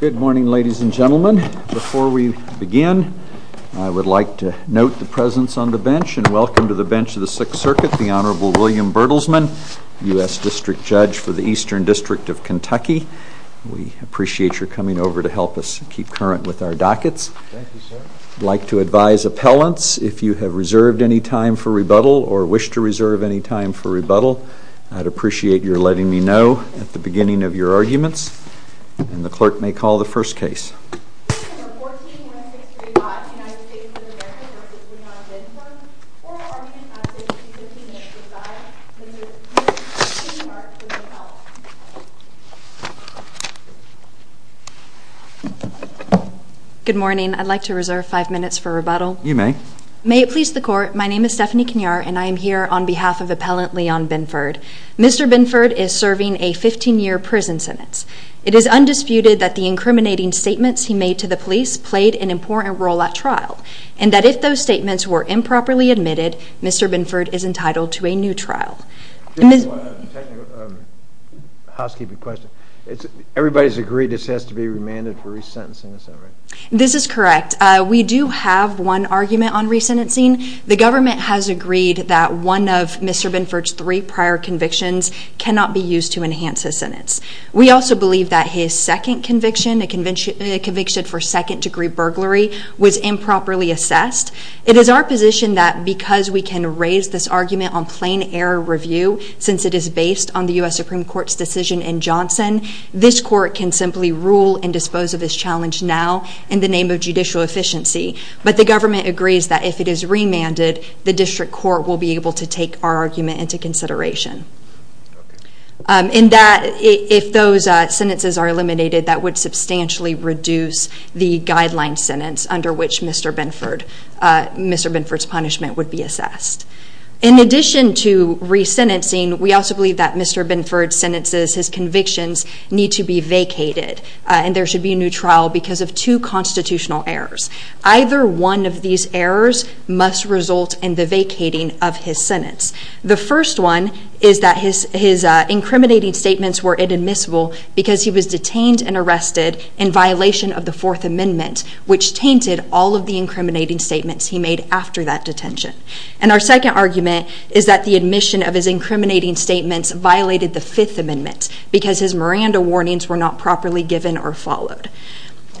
Good morning, ladies and gentlemen. Before we begin, I would like to note the presence on the bench, and welcome to the bench of the Sixth Circuit, the Honorable William Bertelsman, U.S. District Judge for the Eastern District of Kentucky. We appreciate your coming over to help us keep current with our dockets. I'd like to advise appellants, if you have reserved any time for rebuttal or wish to reserve any time for rebuttal, I'd appreciate your letting me hear your arguments, and the clerk may call the first case. Good morning. I'd like to reserve five minutes for rebuttal. You may. May it please the Court, my name is Stephanie Kenyar, and I am here on behalf of It is undisputed that the incriminating statements he made to the police played an important role at trial, and that if those statements were improperly admitted, Mr. Binford is entitled to a new trial. Just one technical housekeeping question. Everybody's agreed this has to be remanded for resentencing, is that right? This is correct. We do have one argument on resentencing. The government has agreed that one of Mr. Binford's three prior convictions cannot be used to We also believe that his second conviction, a conviction for second degree burglary, was improperly assessed. It is our position that because we can raise this argument on plain error review, since it is based on the U.S. Supreme Court's decision in Johnson, this court can simply rule and dispose of this challenge now in the name of judicial efficiency. But the government agrees that if it is remanded, the district court will be able to take our argument into consideration. In that, if those sentences are eliminated, that would substantially reduce the guideline sentence under which Mr. Binford's punishment would be assessed. In addition to resentencing, we also believe that Mr. Binford's sentences, his convictions, need to be vacated, and there should be a new trial because of two constitutional errors. Either one of these errors must result in the first one is that his incriminating statements were inadmissible because he was detained and arrested in violation of the Fourth Amendment, which tainted all of the incriminating statements he made after that detention. And our second argument is that the admission of his incriminating statements violated the Fifth Amendment because his Miranda warnings were not properly given or followed.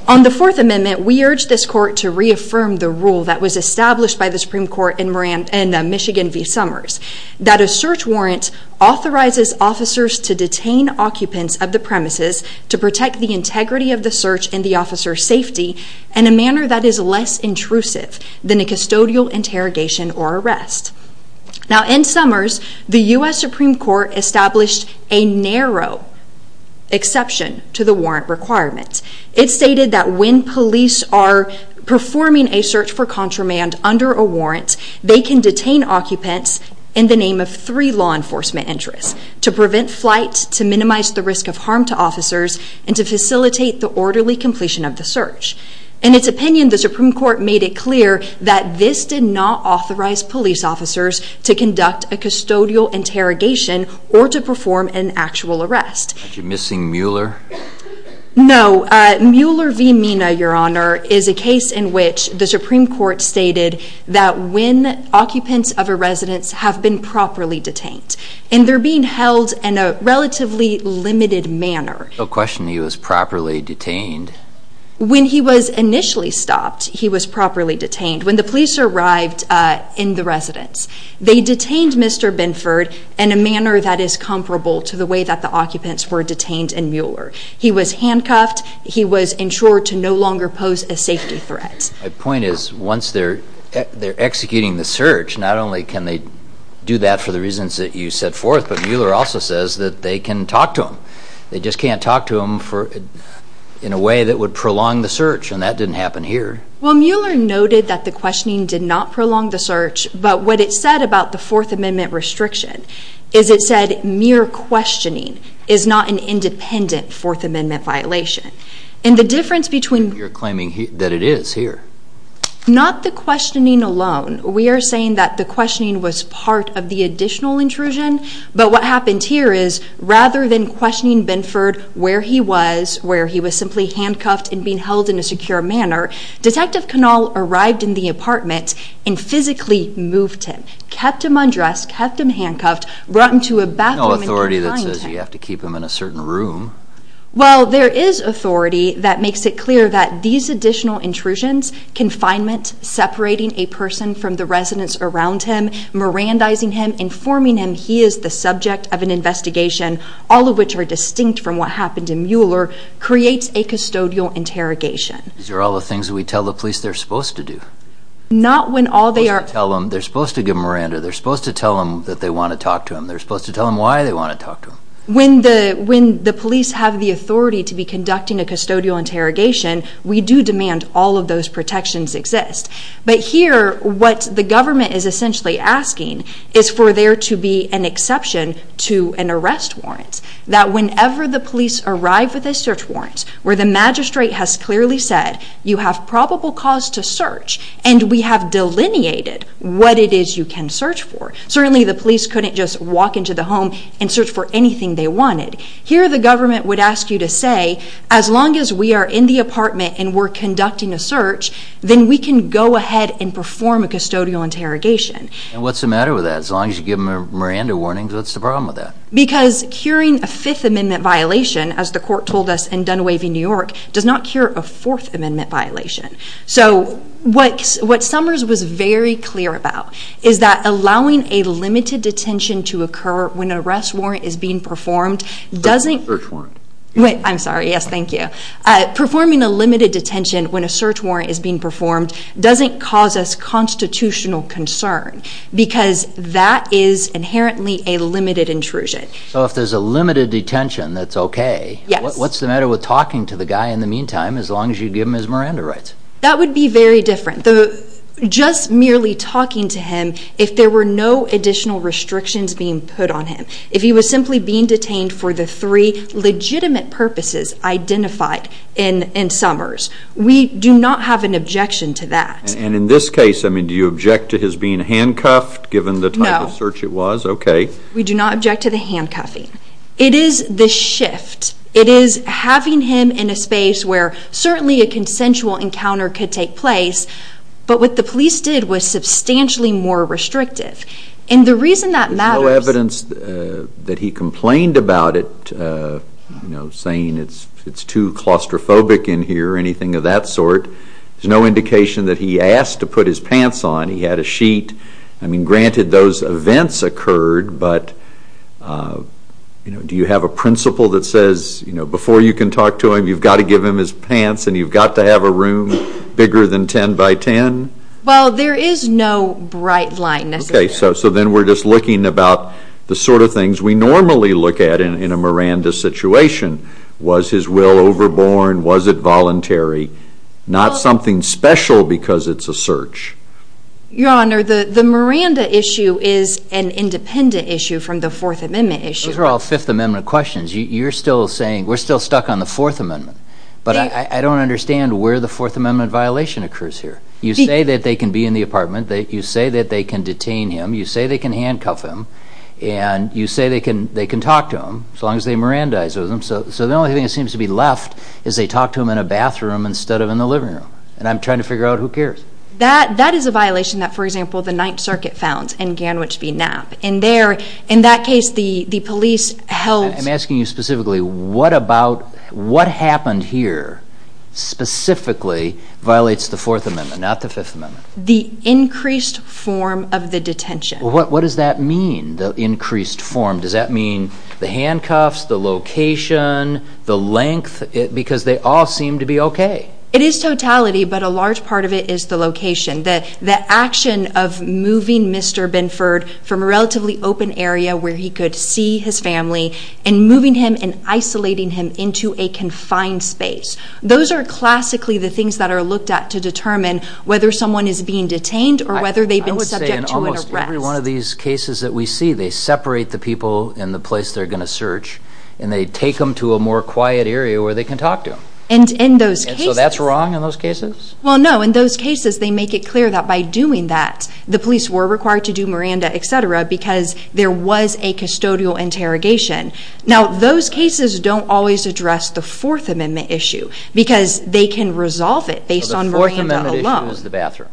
On the Fourth Amendment, we urge this court to reaffirm the rule that was established by the Supreme Court in Michigan v. Summers, that a search warrant authorizes officers to detain occupants of the premises to protect the integrity of the search and the officer's safety in a manner that is less intrusive than a custodial interrogation or arrest. Now, in Summers, the U.S. Supreme Court established a narrow exception to the warrant requirement. It stated that when police are performing a search for contraband under a warrant, they can detain occupants in the name of three law enforcement interests to prevent flight, to minimize the risk of harm to officers, and to facilitate the orderly completion of the search. In its opinion, the Supreme Court made it clear that this did not authorize police officers to conduct a custodial interrogation or to perform an actual arrest. Are you missing Mueller? No. Mueller v. Mina, Your Honor, is a case in which the Supreme Court stated that when occupants of a residence have been properly detained, and they're being held in a relatively limited manner. No question he was properly detained. When he was initially stopped, he was properly detained. When the police arrived in the residence, they detained Mr. Binford in a manner that is comparable to the way that the occupants were detained in Mueller. He was handcuffed. He was ensured to no longer pose a safety threat. My point is, once they're executing the search, not only can they do that for the reasons that you set forth, but Mueller also says that they can talk to him. They just can't talk to him in a way that would prolong the search, and that didn't happen here. Well, Mueller noted that the questioning did not prolong the search, but what it said about the Fourth Amendment restriction is it said, mere questioning is not an independent Fourth Amendment violation. And the difference between You're claiming that it is here. Not the questioning alone. We are saying that the questioning was part of the additional intrusion, but what happened here is, rather than questioning Binford where he was, where he was simply handcuffed and being held in a secure manner, Detective Canall arrived in the apartment and physically moved him, kept him undressed, kept him handcuffed, brought him to a bathroom and confined him. There's no authority that says you have to keep him in a certain room. Well, there is authority that makes it clear that these additional intrusions, confinement, separating a person from the residents around him, mirandizing him, informing him he is the subject of an investigation, all of which are distinct from what happened in Mueller, creates a custodial interrogation. These are all the things we tell the police they're supposed to do. Not when all they are... They're supposed to tell them, they're supposed to give them a rander, they're supposed to tell them that they want to talk to them, they're supposed to tell them why they want to talk to them. When the police have the authority to be conducting a custodial interrogation, we do demand all of those protections exist. But here, what the government is essentially asking is for there to be an exception to an arrest warrant. That whenever the police arrive with a search warrant, where the magistrate has clearly said, you have probable cause to search, and we have delineated what it is you can search for. Certainly, the police couldn't just walk into the home and search for anything they wanted. Here, the government would ask you to say, as long as we are in the apartment and we're conducting a search, then we can go ahead and perform a custodial interrogation. And what's the matter with that? As long as you give them a Miranda warning, what's the problem with that? Because curing a Fifth Amendment violation, as the court told us in Unwaving New York, does not cure a Fourth Amendment violation. So what Summers was very clear about is that allowing a limited detention to occur when an arrest warrant is being performed doesn't... A search warrant. Wait, I'm sorry. Yes, thank you. Performing a limited detention when a search warrant is being performed doesn't cause us constitutional concern because that is inherently a limited intrusion. So if there's a limited detention that's okay, what's the matter with talking to the guy in the meantime, as long as you give him his Miranda rights? That would be very different. Just merely talking to him, if there were no additional restrictions being put on him. If he was simply being detained for the three legitimate purposes identified in Summers. We do not have an objection to that. And in this case, do you object to his being handcuffed, given the type of search it was? No. Okay. We do not object to the handcuffing. It is the shift. It is having him in a space where certainly a consensual encounter could take place, but what the police did was substantially more restrictive. And the reason that matters... There's no evidence that he complained about it, saying it's too claustrophobic in here or anything of that sort. There's no indication that he asked to put his pants on. He had a sheet. Granted, those events occurred, but do you have a principle that says before you can talk to him, you've got to give him his pants and you've got to have a room bigger than 10 by 10? Well, there is no bright line necessarily. Okay, so then we're just looking about the sort of things we normally look at in a Miranda situation. Was his will overborne? Was it voluntary? Not something special because it's a search. Your Honor, the Miranda issue is an independent issue from the Fourth Amendment issue. Those are all Fifth Amendment questions. You're still saying we're still stuck on the Fourth Amendment, but I don't understand where the Fourth Amendment violation occurs here. You say that they can be in the apartment. You say that they can detain him. You say they can handcuff him, and you say they can talk to him as long as they Mirandize with him. So the only thing that seems to be left is they talk to him in a bathroom instead of in the living room, and I'm trying to figure out who cares. That is a violation that, for example, the Ninth Circuit found in Ganwich v. Knapp. In that case, the police held— I'm asking you specifically, what happened here specifically violates the Fourth Amendment, not the Fifth Amendment? The increased form of the detention. What does that mean, the increased form? Does that mean the handcuffs, the location, the length? Because they all seem to be okay. It is totality, but a large part of it is the location. The action of moving Mr. Binford from a relatively open area where he could see his family and moving him and isolating him into a confined space. Those are classically the things that are looked at to determine whether someone is being detained or whether they've been subject to an arrest. I would say in almost every one of these cases that we see, they separate the people in the place they're going to search, and they take them to a more quiet area where they can talk to them. And in those cases— And so that's wrong in those cases? Well, no. In those cases, they make it clear that by doing that, the police were required to do Miranda, et cetera, because there was a custodial interrogation. Now, those cases don't always address the Fourth Amendment issue because they can resolve it based on Miranda alone. So the Fourth Amendment issue is the bathroom?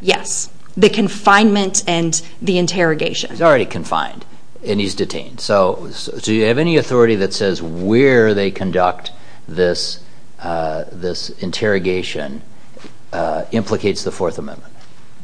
Yes, the confinement and the interrogation. He's already confined, and he's detained. So do you have any authority that says where they conduct this interrogation implicates the Fourth Amendment?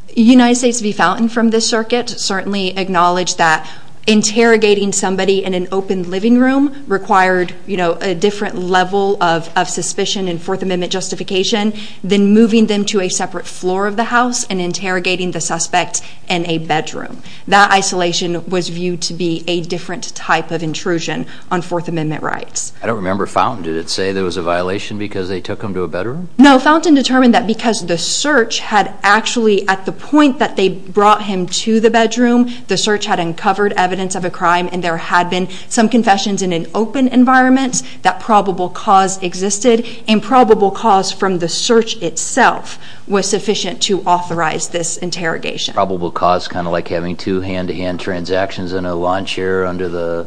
The United States v. Fountain from this circuit certainly acknowledged that interrogating somebody in an open living room required a different level of suspicion and Fourth Amendment justification than moving them to a separate floor of the house and interrogating the suspect in a bedroom. That isolation was viewed to be a different type of intrusion on Fourth Amendment rights. I don't remember Fountain. Did it say there was a violation because they took him to a bedroom? No, Fountain determined that because the search had actually— at the point that they brought him to the bedroom, the search had uncovered evidence of a crime and there had been some confessions in an open environment, that probable cause existed, and probable cause from the search itself was sufficient to authorize this interrogation. Probable cause kind of like having two hand-to-hand transactions in a lawn chair under the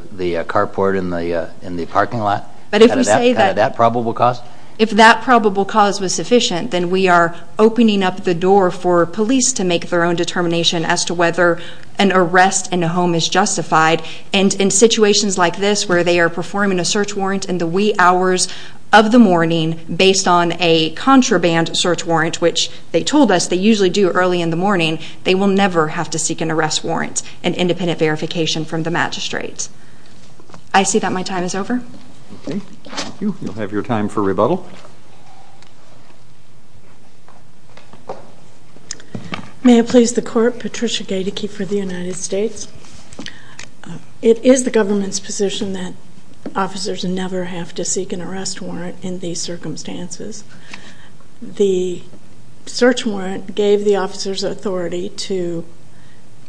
carport in the parking lot? But if we say that— Kind of that probable cause? If that probable cause was sufficient, then we are opening up the door for police to make their own determination as to whether an arrest in a home is justified. And in situations like this where they are performing a search warrant in the wee hours of the morning based on a contraband search warrant, which they told us they usually do early in the morning, they will never have to seek an arrest warrant, an independent verification from the magistrate. I see that my time is over. Okay. Thank you. You'll have your time for rebuttal. May it please the Court, Patricia Gaedeke for the United States. It is the government's position that officers never have to seek an arrest warrant in these circumstances. The search warrant gave the officers authority to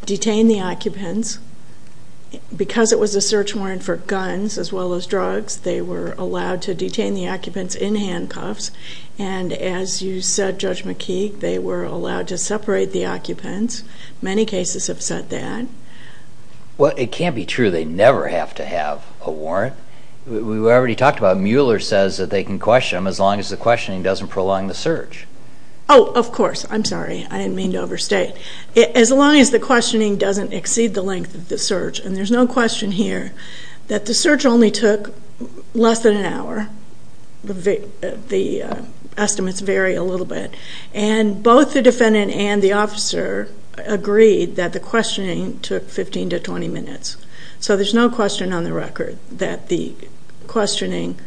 detain the occupants. Because it was a search warrant for guns as well as drugs, they were allowed to detain the occupants in handcuffs. And as you said, Judge McKeague, they were allowed to separate the occupants. Many cases have said that. Well, it can't be true. They never have to have a warrant. We already talked about it. The questioner says that they can question them, as long as the questioning doesn't prolong the search. Oh, of course. I'm sorry. I didn't mean to overstate. As long as the questioning doesn't exceed the length of the search. And there's no question here that the search only took less than an hour. The estimates vary a little bit. And both the defendant and the officer agreed that the questioning took 15 to 20 minutes. So there's no question on the record that the questioning,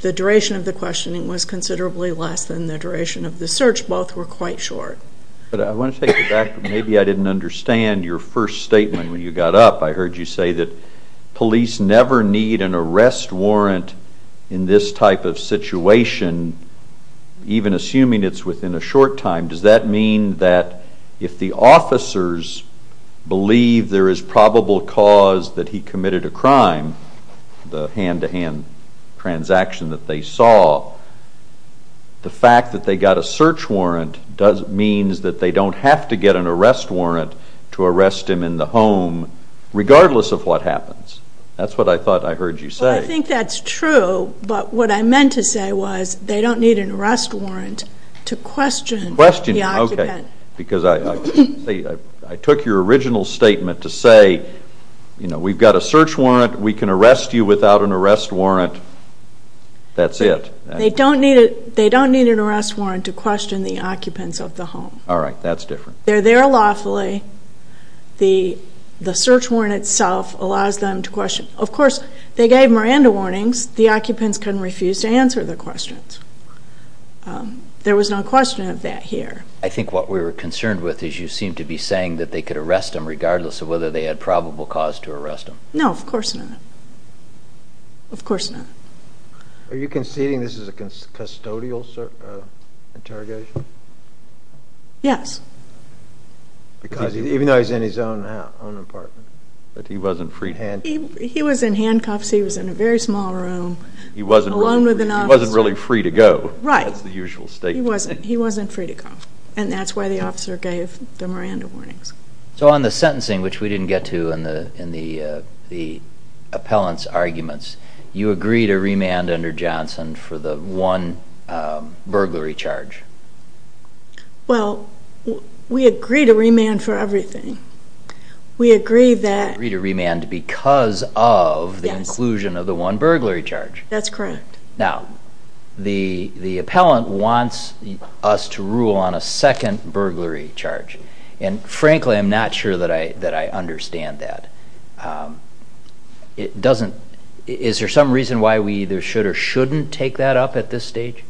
the duration of the questioning was considerably less than the duration of the search. Both were quite short. I want to take it back. Maybe I didn't understand your first statement when you got up. I heard you say that police never need an arrest warrant in this type of situation, even assuming it's within a short time. Does that mean that if the officers believe there is probable cause that he committed a crime, the hand-to-hand transaction that they saw, the fact that they got a search warrant means that they don't have to get an arrest warrant to arrest him in the home, regardless of what happens. That's what I thought I heard you say. I think that's true. But what I meant to say was they don't need an arrest warrant to question the occupant. Okay. Because I took your original statement to say, you know, we've got a search warrant, we can arrest you without an arrest warrant, that's it. They don't need an arrest warrant to question the occupants of the home. All right. That's different. They're there lawfully. The search warrant itself allows them to question. Of course, they gave Miranda warnings. The occupants couldn't refuse to answer their questions. There was no question of that here. I think what we were concerned with is you seemed to be saying that they could arrest him, regardless of whether they had probable cause to arrest him. No, of course not. Of course not. Are you conceding this is a custodial interrogation? Yes. Even though he's in his own apartment? But he wasn't free to go? He was in handcuffs. He was in a very small room alone with an officer. He wasn't really free to go. Right. That's the usual statement. He wasn't free to go, and that's why the officer gave the Miranda warnings. So on the sentencing, which we didn't get to in the appellant's arguments, you agreed to remand under Johnson for the one burglary charge. Well, we agreed to remand for everything. We agreed that. You agreed to remand because of the inclusion of the one burglary charge. That's correct. Now, the appellant wants us to rule on a second burglary charge, and frankly I'm not sure that I understand that. Is there some reason why we either should or shouldn't take that up at this stage?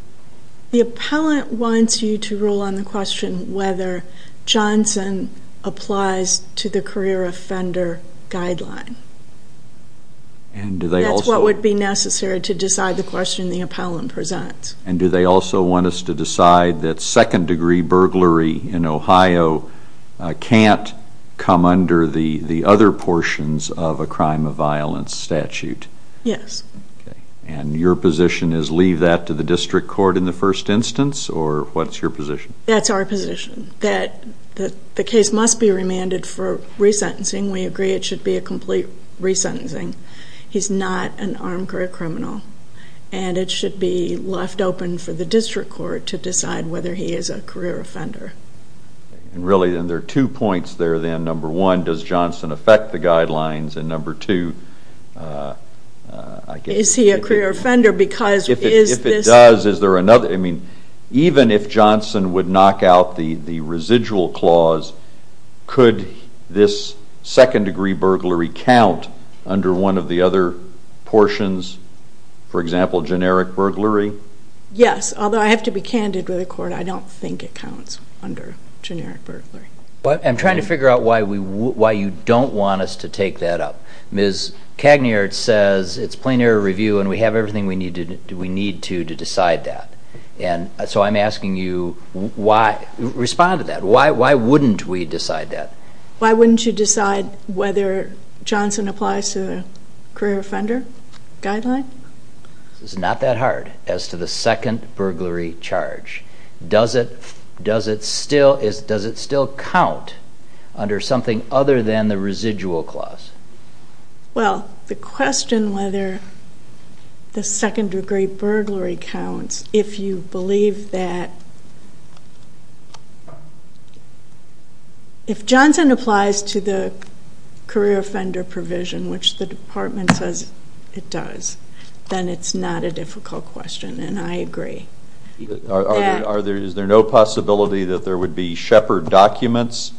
The appellant wants you to rule on the question whether Johnson applies to the career offender guideline. That's what would be necessary to decide the question the appellant presents. And do they also want us to decide that second degree burglary in Ohio can't come under the other portions of a crime of violence statute? Yes. And your position is leave that to the district court in the first instance, or what's your position? That's our position, that the case must be remanded for resentencing. We agree it should be a complete resentencing. He's not an armed career criminal, and it should be left open for the district court to decide whether he is a career offender. Really, and there are two points there then. Number one, does Johnson affect the guidelines? And number two, I guess. Is he a career offender? If it does, is there another? I mean, even if Johnson would knock out the residual clause, could this second degree burglary count under one of the other portions? For example, generic burglary? Yes, although I have to be candid with the court, I don't think it counts under generic burglary. I'm trying to figure out why you don't want us to take that up. Ms. Cagniart says it's plain error review, and we have everything we need to do to decide that. So I'm asking you, respond to that. Why wouldn't we decide that? Why wouldn't you decide whether Johnson applies to the career offender guideline? This is not that hard as to the second burglary charge. Does it still count under something other than the residual clause? Well, the question whether the second degree burglary counts, if you believe that, if Johnson applies to the career offender provision, which the department says it does, then it's not a difficult question, and I agree. Is there no possibility that there would be Shepard documents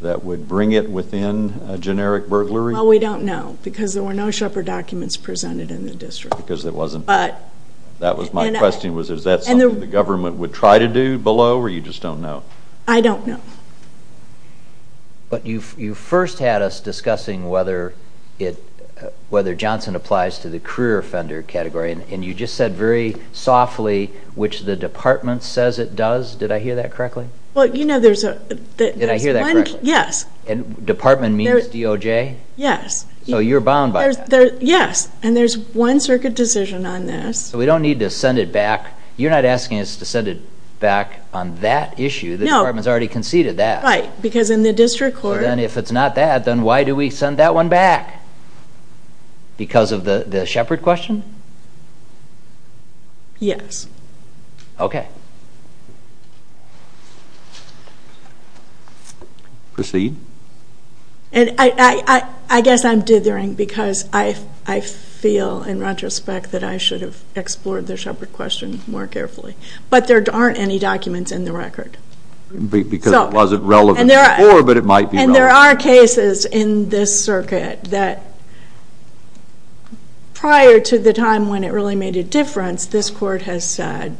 that would bring it within a generic burglary? Well, we don't know, because there were no Shepard documents presented in the district. Because there wasn't. That was my question, was is that something the government would try to do below, or you just don't know? I don't know. But you first had us discussing whether Johnson applies to the career offender category, and you just said very softly, which the department says it does. Did I hear that correctly? Did I hear that correctly? Yes. Department means DOJ? Yes. So you're bound by that. Yes, and there's one circuit decision on this. So we don't need to send it back. You're not asking us to send it back on that issue. The department has already conceded that. Right, because in the district court. Then if it's not that, then why do we send that one back? Because of the Shepard question? Yes. Okay. Proceed. I guess I'm dithering because I feel, in retrospect, that I should have explored the Shepard question more carefully. But there aren't any documents in the record. Because it wasn't relevant before, but it might be relevant. There are cases in this circuit that prior to the time when it really made a difference, this court has said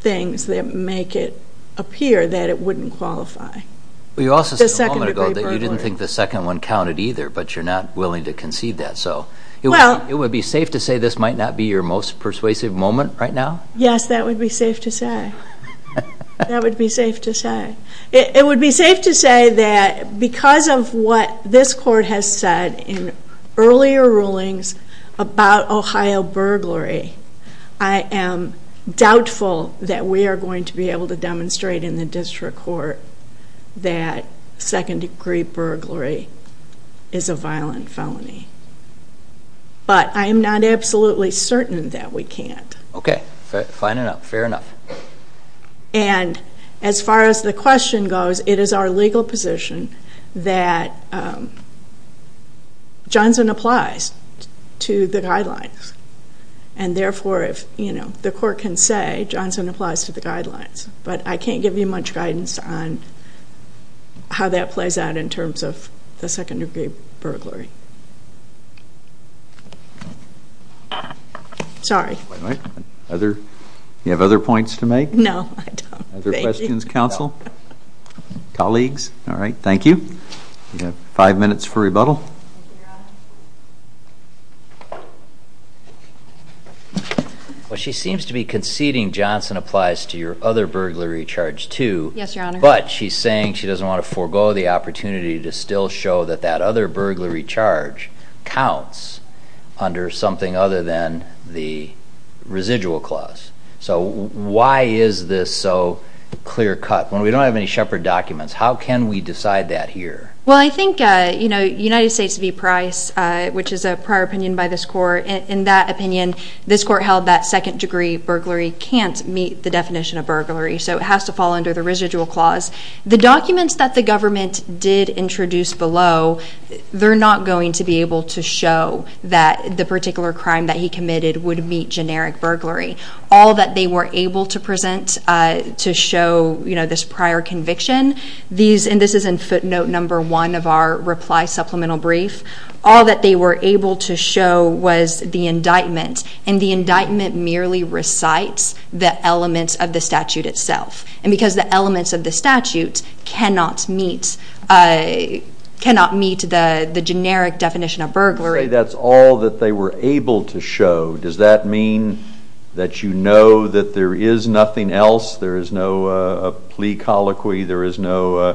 things that make it appear that it wouldn't qualify. You also said a moment ago that you didn't think the second one counted either, but you're not willing to concede that. It would be safe to say this might not be your most persuasive moment right now? Yes, that would be safe to say. That would be safe to say. It would be safe to say that because of what this court has said in earlier rulings about Ohio burglary, I am doubtful that we are going to be able to demonstrate in the district court that second-degree burglary is a violent felony. But I am not absolutely certain that we can't. Okay, fair enough. And as far as the question goes, it is our legal position that Johnson applies to the guidelines. And therefore, if the court can say Johnson applies to the guidelines. But I can't give you much guidance on how that plays out in terms of the second-degree burglary. Sorry. You have other points to make? No, I don't. Other questions, counsel? Colleagues? All right, thank you. You have five minutes for rebuttal. Well, she seems to be conceding Johnson applies to your other burglary charge too. Yes, Your Honor. But she's saying she doesn't want to forego the opportunity to still show that that other burglary charge counts under something other than the residual clause. So why is this so clear-cut when we don't have any Shepard documents? How can we decide that here? Well, I think United States v. Price, which is a prior opinion by this court, in that opinion, this court held that second-degree burglary can't meet the definition of burglary. So it has to fall under the residual clause. The documents that the government did introduce below, they're not going to be able to show that the particular crime that he committed would meet generic burglary. All that they were able to present to show this prior conviction, and this is in footnote number one of our reply supplemental brief, all that they were able to show was the indictment, and the indictment merely recites the elements of the statute itself. And because the elements of the statute cannot meet the generic definition of burglary. You say that's all that they were able to show. Does that mean that you know that there is nothing else, there is no plea colloquy, there is no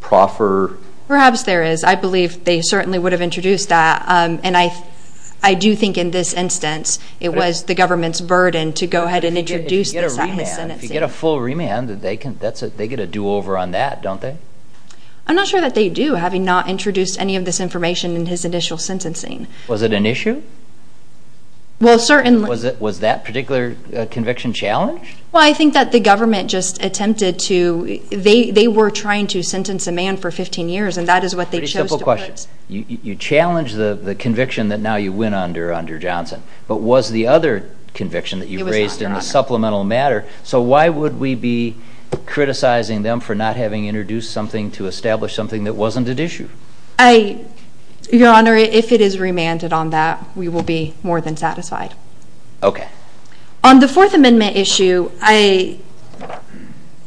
proffer? Perhaps there is. I believe they certainly would have introduced that. And I do think in this instance it was the government's burden to go ahead and introduce this at his sentencing. If you get a full remand, they get a do-over on that, don't they? I'm not sure that they do, having not introduced any of this information in his initial sentencing. Was it an issue? Well, certainly. Was that particular conviction challenged? Well, I think that the government just attempted to, they were trying to sentence a man for 15 years, and that is what they chose to do. Pretty simple question. You challenge the conviction that now you win under Johnson, but was the other conviction that you raised in the supplemental matter? So why would we be criticizing them for not having introduced something to establish something that wasn't at issue? Your Honor, if it is remanded on that, we will be more than satisfied. Okay. On the Fourth Amendment issue,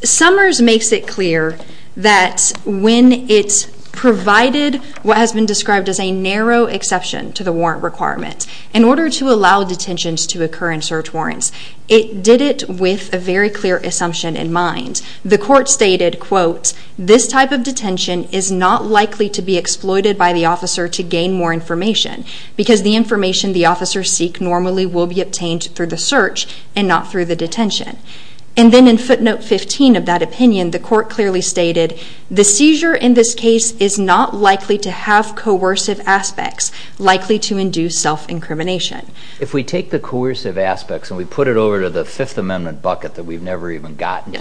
Summers makes it clear that when it's provided what has been described as a narrow exception to the warrant requirement, in order to allow detentions to occur in search warrants, it did it with a very clear assumption in mind. The court stated, quote, this type of detention is not likely to be exploited by the officer to gain more information, because the information the officers seek normally will be obtained through the search and not through the detention. And then in footnote 15 of that opinion, the court clearly stated, the seizure in this case is not likely to have coercive aspects likely to induce self-incrimination. If we take the coercive aspects and we put it over to the Fifth Amendment bucket that we've never even gotten,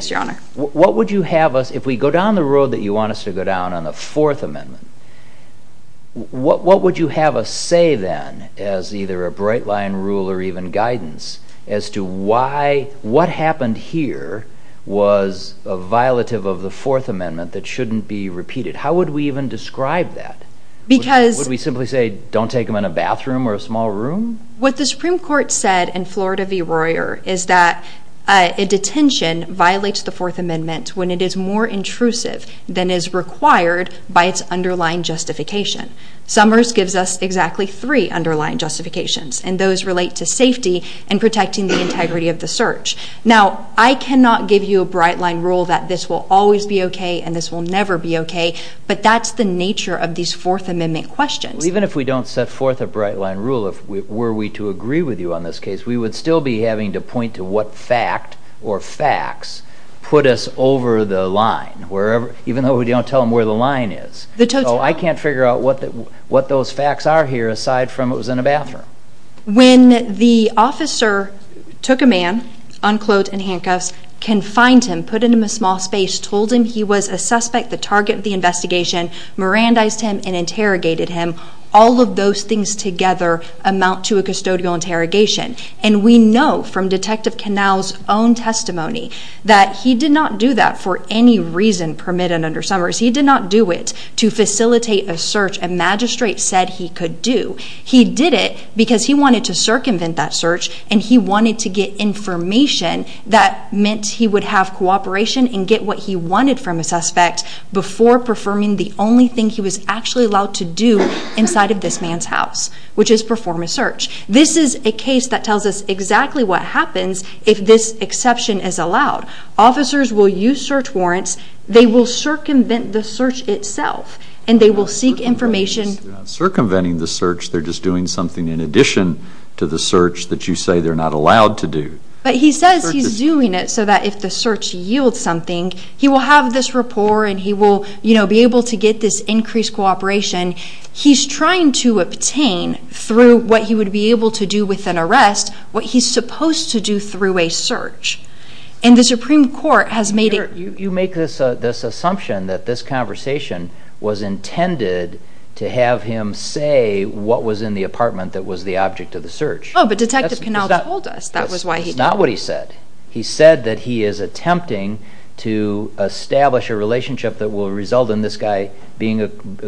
what would you have us, if we go down the road that you want us to go down on the Fourth Amendment, what would you have us say then, as either a bright line rule or even guidance, as to why what happened here was a violative of the Fourth Amendment that shouldn't be repeated? How would we even describe that? Would we simply say, don't take them in a bathroom or a small room? What the Supreme Court said in Florida v. Royer is that a detention violates the Fourth Amendment when it is more intrusive than is required by its underlying justification. Summers gives us exactly three underlying justifications, and those relate to safety and protecting the integrity of the search. Now, I cannot give you a bright line rule that this will always be okay and this will never be okay, but that's the nature of these Fourth Amendment questions. Even if we don't set forth a bright line rule, were we to agree with you on this case, we would still be having to point to what fact or facts put us over the line, even though we don't tell them where the line is. So I can't figure out what those facts are here aside from it was in a bathroom. When the officer took a man, unclothed and in handcuffs, confined him, put him in a small space, told him he was a suspect, the target of the investigation, Mirandized him and interrogated him, all of those things together amount to a custodial interrogation. And we know from Detective Knauss' own testimony that he did not do that for any reason permitted under Summers. He did not do it to facilitate a search a magistrate said he could do. He did it because he wanted to circumvent that search and he wanted to get information that meant he would have cooperation and get what he wanted from a suspect before performing the only thing he was actually allowed to do inside of this man's house, which is perform a search. This is a case that tells us exactly what happens if this exception is allowed. Officers will use search warrants, they will circumvent the search itself and they will seek information... They're not circumventing the search, they're just doing something in addition to the search that you say they're not allowed to do. But he says he's doing it so that if the search yields something, he will have this rapport and he will be able to get this increased cooperation. He's trying to obtain, through what he would be able to do with an arrest, what he's supposed to do through a search. And the Supreme Court has made it... You make this assumption that this conversation was intended to have him say what was in the apartment that was the object of the search. Oh, but Detective Knauss told us that was why he... That's not what he said. He said that he is attempting to establish a relationship that will result in this guy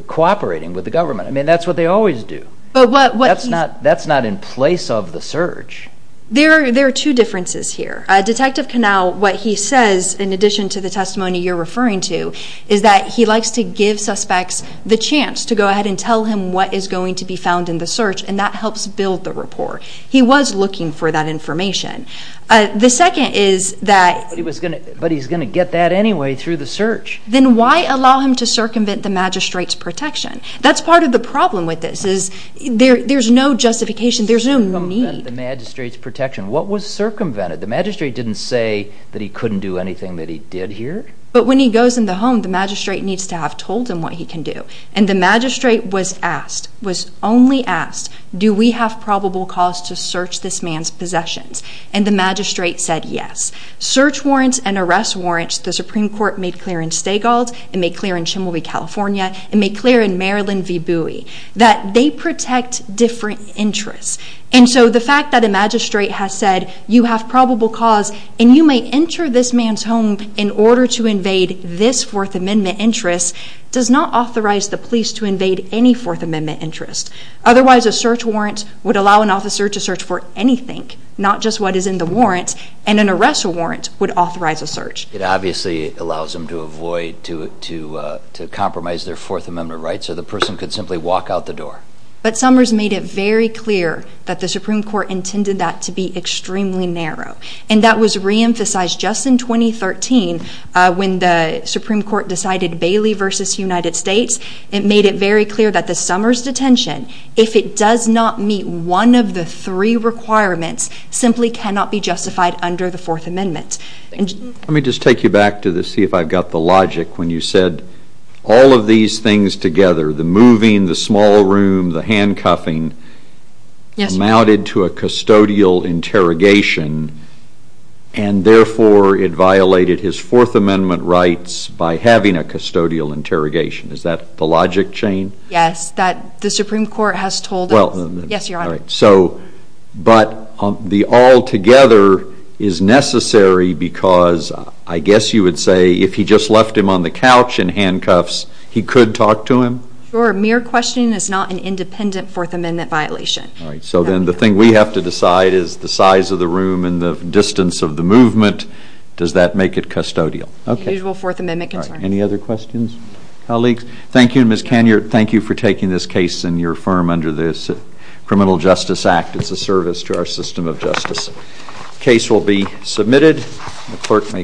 cooperating with the government. I mean, that's what they always do. That's not in place of the search. There are two differences here. Detective Knauss, what he says, in addition to the testimony you're referring to, is that he likes to give suspects the chance to go ahead and tell him what is going to be found in the search and that helps build the rapport. He was looking for that information. The second is that... But he's going to get that anyway through the search. Then why allow him to circumvent the magistrate's protection? That's part of the problem with this. There's no justification. There's no need. Circumvent the magistrate's protection. What was circumvented? The magistrate didn't say that he couldn't do anything that he did here? But when he goes in the home, the magistrate needs to have told him what he can do. And the magistrate was asked, was only asked, do we have probable cause to search this man's possessions? And the magistrate said yes. Search warrants and arrest warrants, the Supreme Court made clear in Stagald, it made clear in Chimelby, California, it made clear in Maryland v. Bowie, that they protect different interests. And so the fact that a magistrate has said you have probable cause and you may enter this man's home in order to invade this Fourth Amendment interest does not authorize the police to invade any Fourth Amendment interest. Otherwise, a search warrant would allow an officer to search for anything, not just what is in the warrant, and an arrest warrant would authorize a search. It obviously allows them to avoid, to compromise their Fourth Amendment rights, so the person could simply walk out the door. But Summers made it very clear that the Supreme Court intended that to be extremely narrow. And that was reemphasized just in 2013 when the Supreme Court decided Bailey v. United States. It made it very clear that the Summers detention, if it does not meet one of the three requirements, simply cannot be justified under the Fourth Amendment. Let me just take you back to see if I've got the logic when you said all of these things together, the moving, the small room, the handcuffing, amounted to a custodial interrogation, and therefore it violated his Fourth Amendment rights by having a custodial interrogation. Is that the logic chain? Yes, that the Supreme Court has told us. Yes, Your Honor. But the altogether is necessary because I guess you would say if he just left him on the couch in handcuffs, he could talk to him? Sure. Mere questioning is not an independent Fourth Amendment violation. All right. So then the thing we have to decide is the size of the room and the distance of the movement. Does that make it custodial? Okay. The usual Fourth Amendment concerns. All right. Any other questions? Colleagues? Thank you. Ms. Canyard, thank you for taking this case in your firm under the Criminal Justice Act. It's a service to our system of justice. Case will be submitted. The clerk may call the roll.